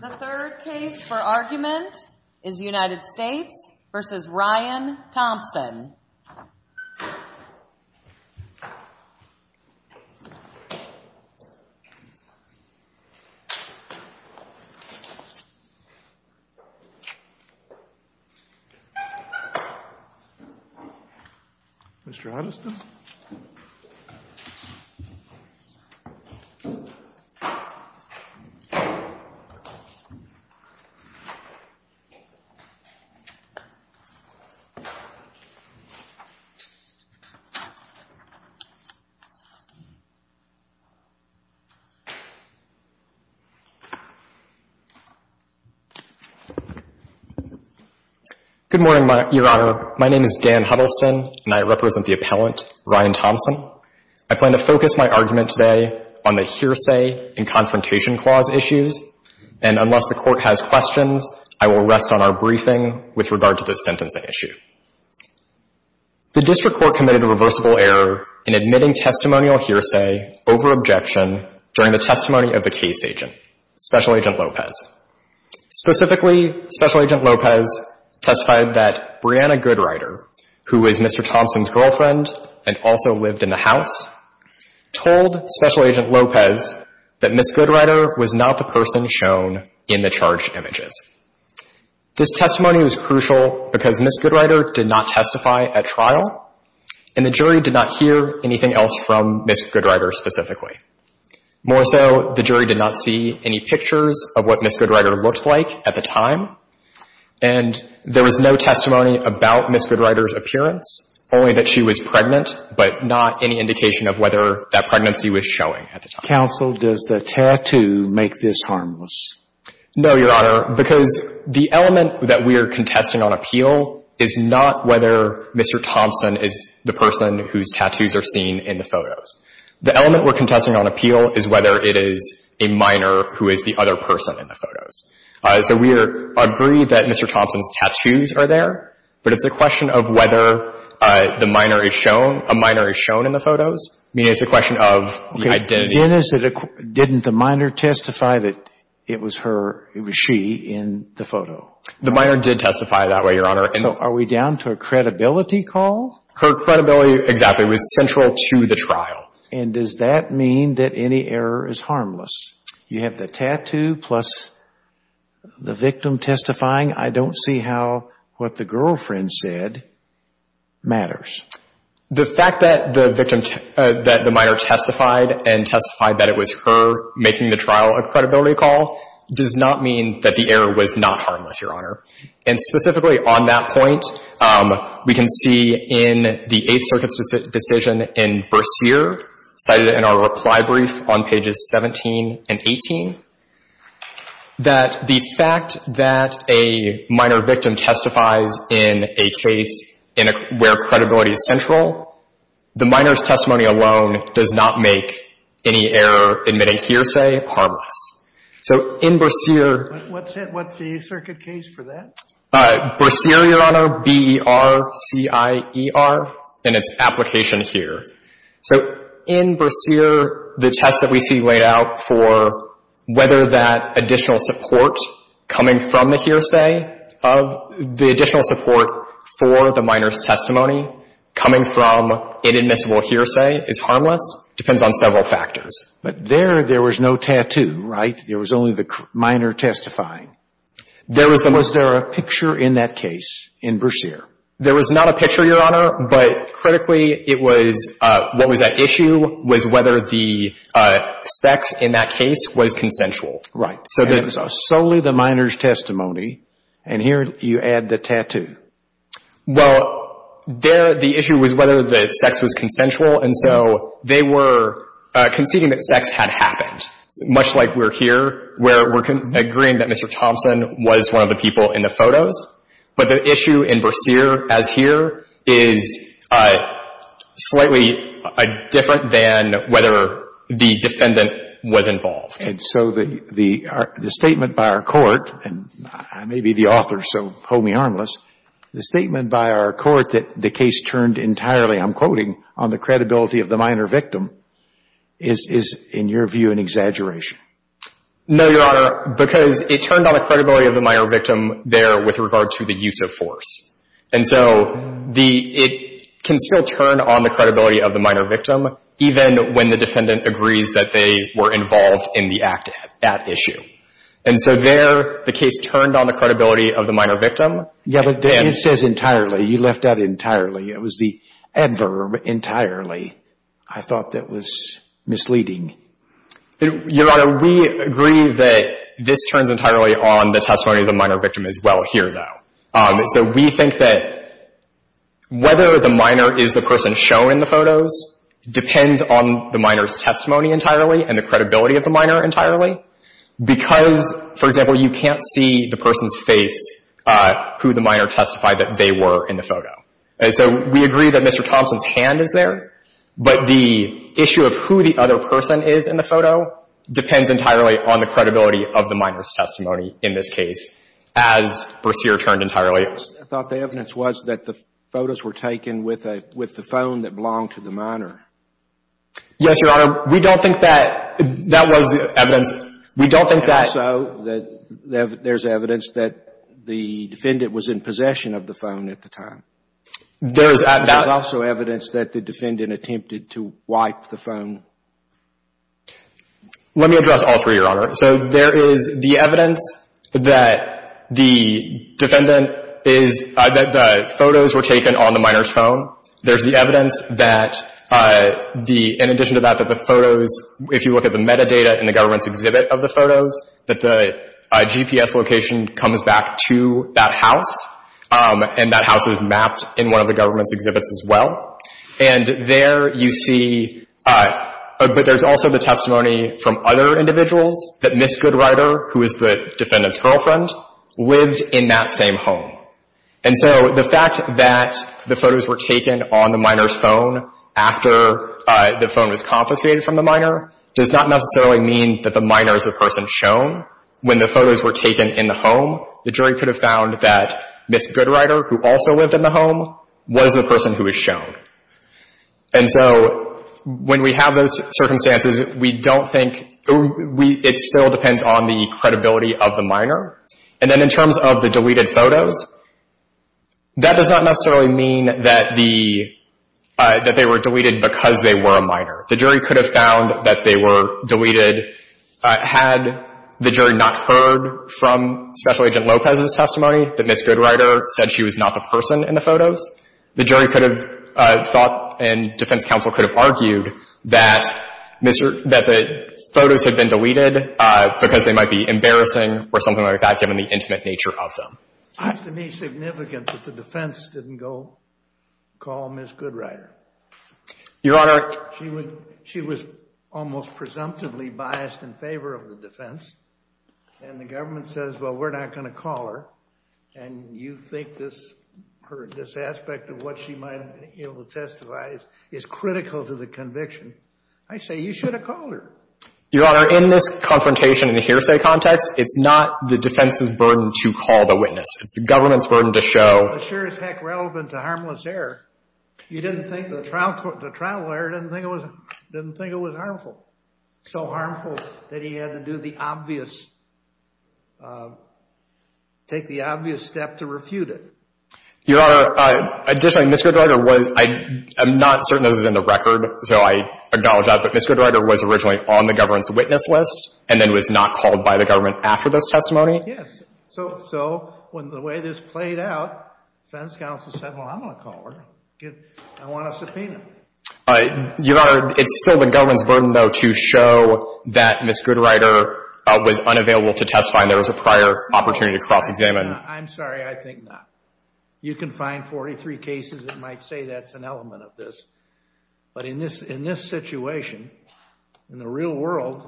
The third case for argument is United States v. Ryan Thompson Mr. Huddleston Good morning, Your Honor. My name is Dan Huddleston, and I represent the appellant, Ryan Thompson. I plan to focus my argument today on the hearsay and confrontation clause issues, and unless the Court has questions, I will rest on our briefing with regard to this sentencing issue. The district court committed a reversible error in admitting testimonial hearsay over objection during the testimony of the case agent, Special Agent Lopez. Specifically, Special Agent Lopez testified that Brianna Goodrider, who is Mr. Thompson's girlfriend and also lived in the house, told Special Agent Lopez that Ms. Goodrider was not the person shown in the charged images. This testimony was crucial because Ms. Goodrider did not testify at trial, and the jury did not hear anything else from Ms. Goodrider specifically. More so, the jury did not see any pictures of what Ms. Goodrider looked like at the time, and there was no testimony about Ms. Goodrider's appearance, only that she was pregnant, but not any indication of whether that pregnancy was showing at the time. Counsel, does the tattoo make this harmless? No, Your Honor, because the element that we are contesting on appeal is not whether Mr. Thompson is the person whose tattoos are seen in the photos. The element we're contesting on appeal is whether it is a minor who is the other person in the photos. So we agree that Mr. Thompson's tattoos are there, but it's a question of whether a minor is shown in the photos. I mean, it's a question of the identity. Didn't the minor testify that it was her, it was she in the photo? The minor did testify that way, Your Honor. So are we down to a credibility call? Her credibility, exactly, was central to the trial. And does that mean that any error is harmless? You have the tattoo plus the victim testifying. I don't see how what the girlfriend said matters. The fact that the minor testified and testified that it was her making the trial a credibility call does not mean that the error was not harmless, Your Honor. And specifically on that point, we can see in the Eighth Circuit's decision in Bercier, cited in our reply brief on pages 17 and 18, that the fact that a minor victim testifies in a case where credibility is central, the minor's testimony alone does not make any error admitting hearsay harmless. So in Bercier — What's the Eighth Circuit case for that? Bercier, Your Honor, B-E-R-C-I-E-R, and its application here. So in Bercier, the test that we see laid out for whether that additional support coming from the hearsay of — the additional support for the minor's testimony coming from inadmissible hearsay is harmless depends on several factors. But there, there was no tattoo, right? There was only the minor testifying. There was no — Was there a picture in that case in Bercier? There was not a picture, Your Honor, but critically it was — what was at issue was whether the sex in that case was consensual. Right. So solely the minor's testimony, and here you add the tattoo. Well, there the issue was whether the sex was consensual, and so they were conceding that sex had happened, much like we're here, where we're agreeing that Mr. Thompson was one of the people in the photos. But the issue in Bercier, as here, is slightly different than whether the defendant was involved. And so the statement by our Court — and I may be the author, so hold me harmless — the statement by our Court that the case turned entirely, I'm quoting, on the credibility of the minor victim is, in your view, an exaggeration? No, Your Honor, because it turned on the credibility of the minor victim there with regard to the use of force. And so it can still turn on the credibility of the minor victim, even when the defendant agrees that they were involved in the act at issue. And so there the case turned on the credibility of the minor victim. Yeah, but it says entirely. You left out entirely. It was the adverb entirely. I thought that was misleading. Your Honor, we agree that this turns entirely on the testimony of the minor victim as well here, though. So we think that whether the minor is the person shown in the photos depends on the minor's testimony entirely and the credibility of the minor entirely, because, for example, you can't see the person's face, who the minor testified that they were in the photo. And so we agree that Mr. Thompson's hand is there, but the issue of who the other person is in the photo depends entirely on the credibility of the minor's testimony in this case, as Berseer turned entirely. I thought the evidence was that the photos were taken with the phone that belonged to the minor. Yes, Your Honor. We don't think that that was the evidence. We don't think that. And also that there's evidence that the defendant was in possession of the phone at the time. There's also evidence that the defendant attempted to wipe the phone. Let me address all three, Your Honor. So there is the evidence that the defendant is – that the photos were taken on the minor's phone. There's the evidence that the – in addition to that, that the photos – if you look at the metadata in the government's exhibit of the photos, that the GPS location comes back to that house, and that house is mapped in one of the government's exhibits as well. And there you see – but there's also the testimony from other individuals that Ms. Goodrider, who is the defendant's girlfriend, lived in that same home. And so the fact that the photos were taken on the minor's phone after the phone was confiscated from the minor does not necessarily mean that the minor is the person shown. When the photos were taken in the home, the jury could have found that Ms. Goodrider, who also lived in the home, was the person who was shown. And so when we have those circumstances, we don't think – it still depends on the credibility of the minor. And then in terms of the deleted photos, that does not necessarily mean that the – that they were deleted because they were a minor. The jury could have found that they were deleted had the jury not heard from Special Agent Lopez's testimony that Ms. Goodrider said she was not the person in the photos. The jury could have thought and defense counsel could have argued that the photos had been deleted because they might be embarrassing or something like that given the intimate nature of them. It seems to me significant that the defense didn't go call Ms. Goodrider. Your Honor. She was almost presumptively biased in favor of the defense, and the government says, well, we're not going to call her, and you think this – this aspect of what she might have been able to testify is critical to the conviction. I say you should have called her. Your Honor, in this confrontation and hearsay context, it's not the defense's burden to call the witness. It's the government's burden to show. The jury is, heck, relevant to harmless error. You didn't think – the trial lawyer didn't think it was harmful, so harmful that he had to do the obvious – take the obvious step to refute it. Your Honor, additionally, Ms. Goodrider was – I'm not certain this is in the record, so I acknowledge that, but Ms. Goodrider was originally on the government's witness list and then was not called by the government after this testimony. Yes. So the way this played out, defense counsel said, well, I'm going to call her. I want a subpoena. Your Honor, it's still the government's burden, though, to show that Ms. Goodrider was unavailable to testify and there was a prior opportunity to cross-examine. I'm sorry. I think not. You can find 43 cases that might say that's an element of this. But in this situation, in the real world,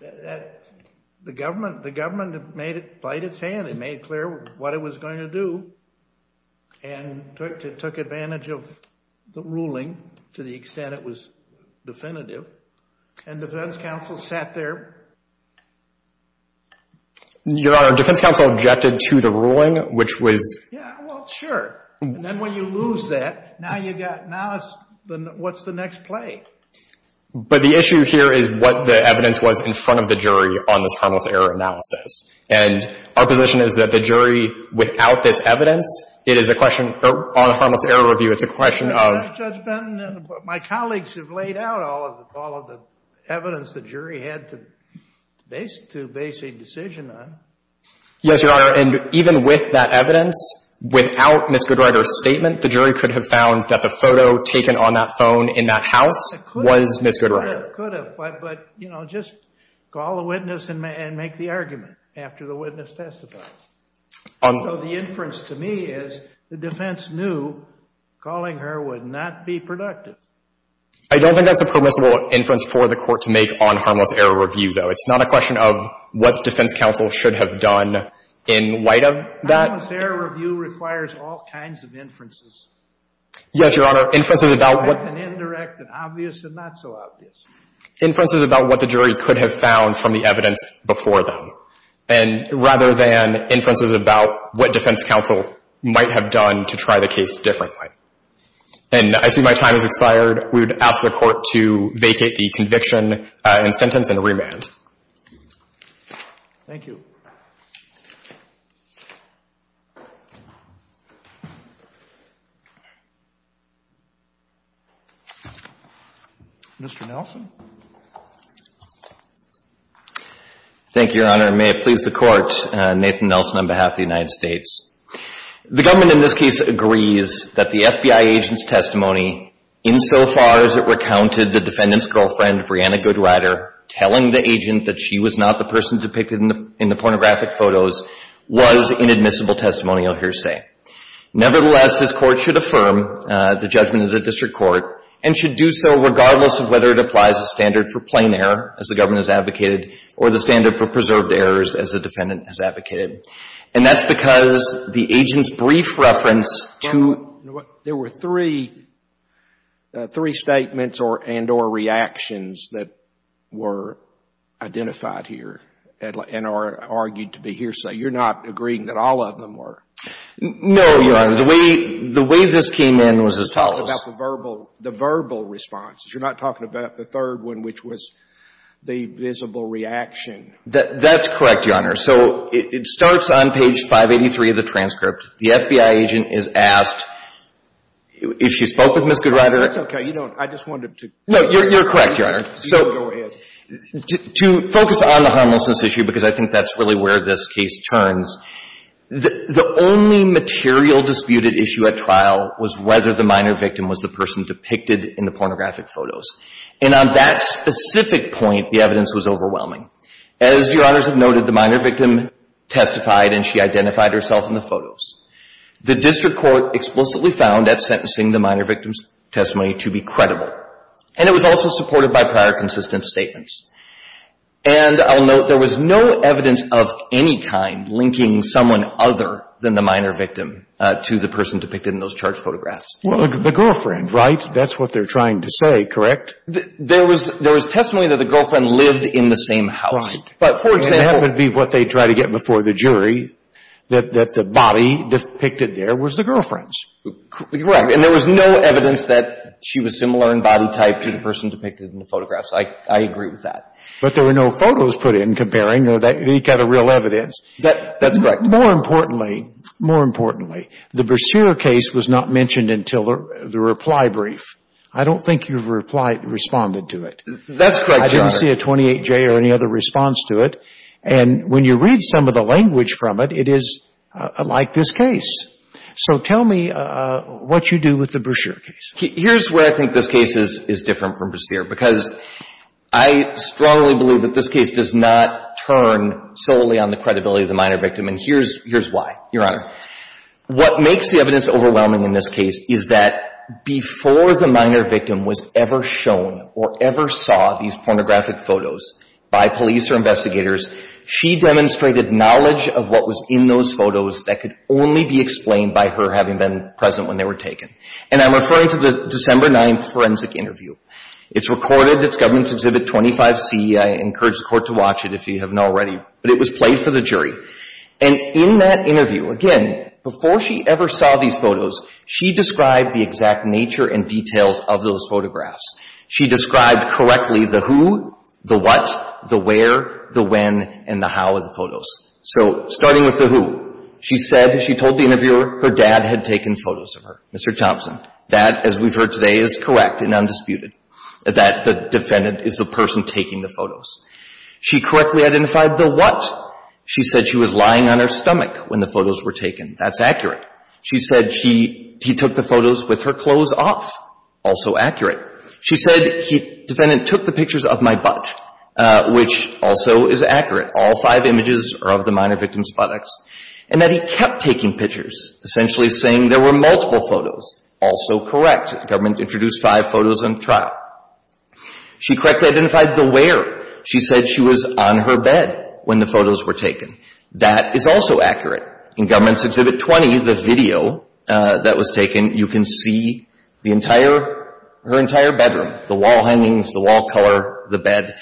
the government played its hand and made clear what it was going to do and took advantage of the ruling to the extent it was definitive, and defense counsel sat there. Your Honor, defense counsel objected to the ruling, which was – Yeah, well, sure. And then when you lose that, now you've got – now what's the next play? But the issue here is what the evidence was in front of the jury on this harmless error analysis. And our position is that the jury, without this evidence, it is a question – on a harmless error review, it's a question of – But, Judge Benton, my colleagues have laid out all of the evidence the jury had to base a decision on. Yes, Your Honor. And even with that evidence, without Ms. Goodrider's statement, the jury could have found that the photo taken on that phone in that house was Ms. Goodrider. Could have. But, you know, just call the witness and make the argument after the witness testifies. So the inference to me is the defense knew calling her would not be productive. I don't think that's a permissible inference for the Court to make on harmless error review, though. It's not a question of what defense counsel should have done in light of that. Harmless error review requires all kinds of inferences. Yes, Your Honor. Inferences about what – Indirect and obvious and not so obvious. Inferences about what the jury could have found from the evidence before them. And rather than inferences about what defense counsel might have done to try the case differently. And I see my time has expired. We would ask the Court to vacate the conviction and sentence and remand. Thank you. Mr. Nelson. Thank you, Your Honor. And may it please the Court, Nathan Nelson on behalf of the United States. The government in this case agrees that the FBI agent's testimony, insofar as it recounted the defendant's girlfriend, Brianna Goodrider, telling the agent that she was not the person depicted in the pornographic photos, was inadmissible testimonial hearsay. Nevertheless, this Court should affirm the judgment of the district court and should do so regardless of whether it applies the standard for plain error, as the government has advocated, or the standard for preserved errors, as the defendant has advocated. And that's because the agent's brief reference to – three statements and or reactions that were identified here and are argued to be hearsay. You're not agreeing that all of them were? No, Your Honor. The way this came in was as follows. You're not talking about the verbal responses. You're not talking about the third one, which was the visible reaction. That's correct, Your Honor. So it starts on page 583 of the transcript. The FBI agent is asked if she spoke with Ms. Goodrider. That's okay. You don't – I just wanted to – No, you're correct, Your Honor. So – No, go ahead. To focus on the harmlessness issue, because I think that's really where this case turns, the only material disputed issue at trial was whether the minor victim was the person depicted in the pornographic photos. And on that specific point, the evidence was overwhelming. As Your Honors have noted, the minor victim testified and she identified herself in the photos. The district court explicitly found that sentencing the minor victim's testimony to be credible. And it was also supported by prior consistent statements. And I'll note there was no evidence of any kind linking someone other than the minor victim to the person depicted in those charged photographs. Well, the girlfriend, right? That's what they're trying to say, correct? There was testimony that the girlfriend lived in the same house. But for example – And that would be what they try to get before the jury, that the body depicted there was the girlfriend's. Correct. And there was no evidence that she was similar in body type to the person depicted in the photographs. I agree with that. But there were no photos put in comparing or any kind of real evidence. That's correct. More importantly, more importantly, the Brashear case was not mentioned until the reply brief. I don't think your reply responded to it. That's correct, Your Honor. I didn't see a 28J or any other response to it. And when you read some of the language from it, it is like this case. So tell me what you do with the Brashear case. Here's where I think this case is different from Brashear, because I strongly believe that this case does not turn solely on the credibility of the minor victim. And here's why, Your Honor. What makes the evidence overwhelming in this case is that before the minor victim was ever shown or ever saw these pornographic photos by police or investigators, she demonstrated knowledge of what was in those photos that could only be explained by her having been present when they were taken. And I'm referring to the December 9th forensic interview. It's recorded. It's Government's Exhibit 25C. I encourage the Court to watch it if you haven't already. But it was played for the jury. And in that interview, again, before she ever saw these photos, she described the exact nature and details of those photographs. She described correctly the who, the what, the where, the when, and the how of the photos. So starting with the who, she said she told the interviewer her dad had taken photos of her, Mr. Thompson. That, as we've heard today, is correct and undisputed, that the defendant is the person taking the photos. She correctly identified the what. She said she was lying on her stomach when the photos were taken. That's accurate. She said she took the photos with her clothes off. Also accurate. She said the defendant took the pictures of my butt, which also is accurate. All five images are of the minor victim's buttocks. And that he kept taking pictures, essentially saying there were multiple photos. Also correct. The Government introduced five photos in the trial. She correctly identified the where. She said she was on her bed when the photos were taken. That is also accurate. In Government's Exhibit 20, the video that was taken, you can see the entire, her entire bedroom, the wall hangings, the wall color, the bed.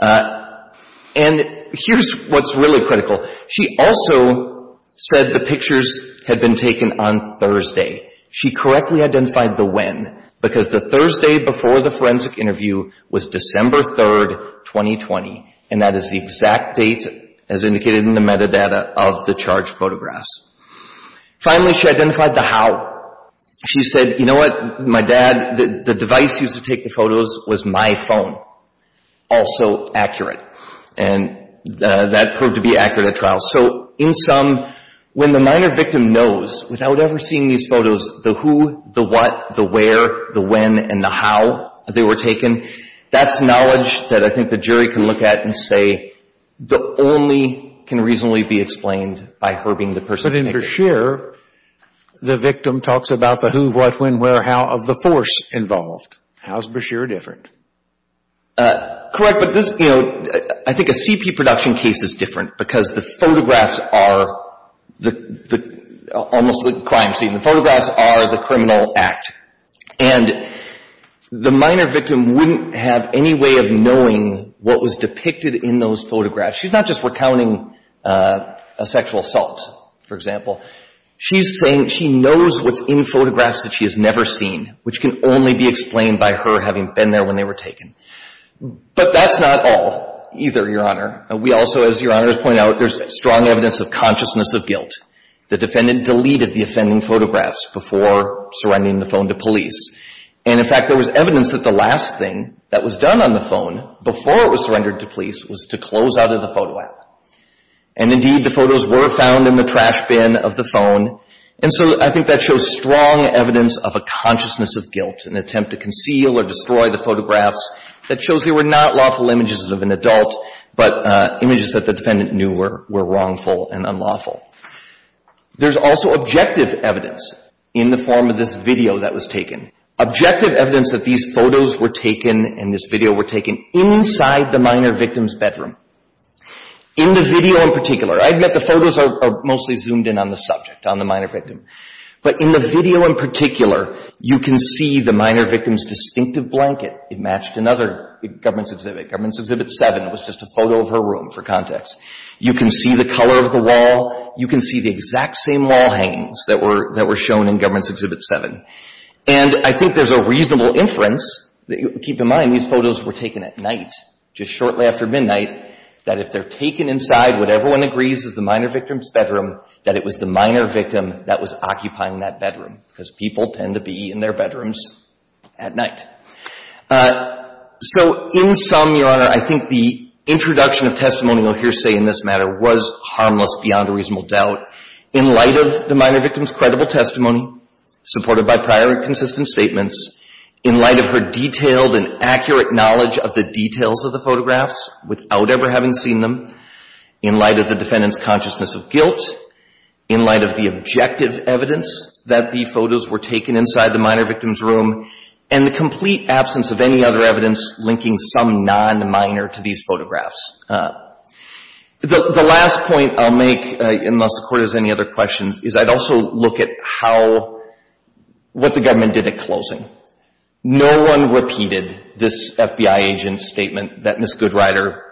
And here's what's really critical. She also said the pictures had been taken on Thursday. She correctly identified the when, because the Thursday before the forensic interview was December 3, 2020, and that is the exact date as indicated in the metadata of the charged photographs. Finally, she identified the how. She said, you know what, my dad, the device used to take the photos was my phone. Also accurate. And that proved to be accurate at trial. So in sum, when the minor victim knows, without ever seeing these photos, the who, the what, the where, the when, and the how they were taken, that's knowledge that I think the jury can look at and say the only can reasonably be explained by her being the person. But in Brashear, the victim talks about the who, what, when, where, how of the force involved. How is Brashear different? Correct, but this, you know, I think a CP production case is different because the photographs are the almost crime scene. The photographs are the criminal act. And the minor victim wouldn't have any way of knowing what was depicted in those photographs. She's not just recounting a sexual assault, for example. She's saying she knows what's in photographs that she has never seen, which can only be explained by her having been there when they were taken. But that's not all either, Your Honor. We also, as Your Honor has pointed out, there's strong evidence of consciousness of guilt. The defendant deleted the offending photographs before surrendering the phone to police. And, in fact, there was evidence that the last thing that was done on the phone before it was surrendered to police was to close out of the photo app. And, indeed, the photos were found in the trash bin of the phone. And so I think that shows strong evidence of a consciousness of guilt, an attempt to conceal or destroy the photographs. That shows there were not lawful images of an adult, but images that the defendant knew were wrongful and unlawful. There's also objective evidence in the form of this video that was taken. Objective evidence that these photos were taken and this video were taken inside the minor victim's bedroom. In the video in particular, I admit the photos are mostly zoomed in on the subject, on the minor victim. But in the video in particular, you can see the minor victim's distinctive blanket. It matched another government's exhibit, Government's Exhibit 7. It was just a photo of her room for context. You can see the color of the wall. You can see the exact same wall hangs that were shown in Government's Exhibit 7. And I think there's a reasonable inference, keep in mind these photos were taken at night, just shortly after midnight, that if they're taken inside what everyone agrees is the minor victim's bedroom, that it was the minor victim that was occupying that bedroom, because people tend to be in their bedrooms at night. So in sum, Your Honor, I think the introduction of testimonial hearsay in this matter was harmless beyond a reasonable doubt. In light of the minor victim's credible testimony, supported by prior and consistent statements, in light of her detailed and accurate knowledge of the details of the photographs, without ever having seen them, in light of the defendant's consciousness of guilt, in light of the objective evidence that the photos were taken inside the minor victim's room, and the complete absence of any other evidence linking some non-minor to these photographs. The last point I'll make, unless the Court has any other questions, is I'd also look at how, what the Government did at closing. No one repeated this FBI agent's statement that Ms. Goodrider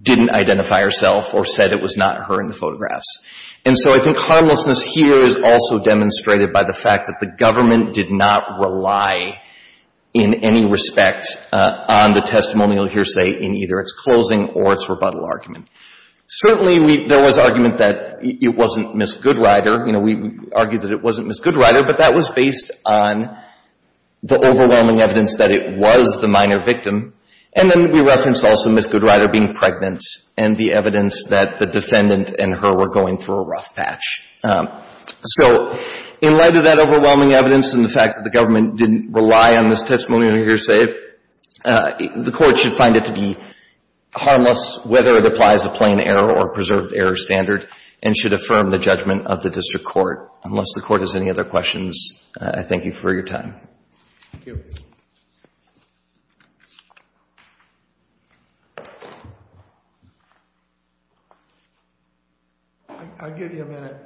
didn't identify herself or said it was not her in the photographs. And so I think harmlessness here is also demonstrated by the fact that the Government did not rely in any respect on the testimonial hearsay in either its closing or its rebuttal argument. Certainly, there was argument that it wasn't Ms. Goodrider. You know, we argued that it wasn't Ms. Goodrider, but that was based on the overwhelming evidence that it was the minor victim. And then we referenced also Ms. Goodrider being pregnant and the evidence that the defendant and her were going through a rough patch. So in light of that overwhelming evidence and the fact that the Government didn't rely on this testimonial hearsay, the Court should find it to be harmless whether it applies a plain error or preserved error standard and should affirm the judgment of the district court. Unless the Court has any other questions, I thank you for your time. Thank you. I'll give you a minute.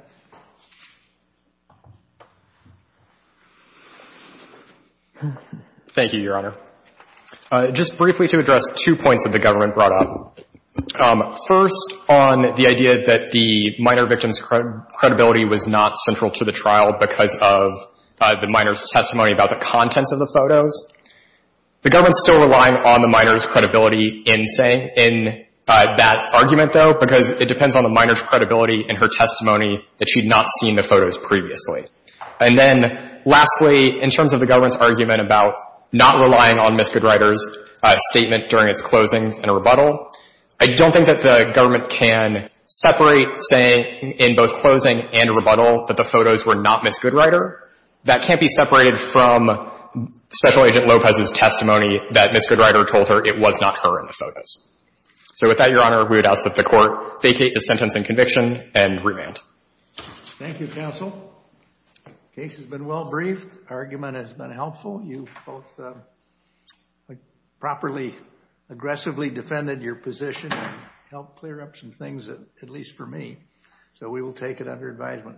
Thank you, Your Honor. Just briefly to address two points that the Government brought up. First, on the idea that the minor victim's credibility was not central to the trial because of the minor's testimony about the contents of the photos, the Government is still relying on the minor's credibility in, say, in that argument, though, because it depends on the minor's credibility in her testimony that she had not seen the photos previously. And then lastly, in terms of the Government's argument about not relying on Ms. Goodrider's statement during its closings and rebuttal, I don't think that the Government can separate, say, in both closing and rebuttal, that the photos were not Ms. Goodrider. That can't be separated from Special Agent Lopez's testimony that Ms. Goodrider told her it was not her in the photos. So with that, Your Honor, we would ask that the Court vacate the sentence in conviction and remand. Thank you, counsel. Case has been well briefed. Argument has been helpful. You both properly, aggressively defended your position and helped clear up some things, at least for me. So we will take it under advisement. Thank you.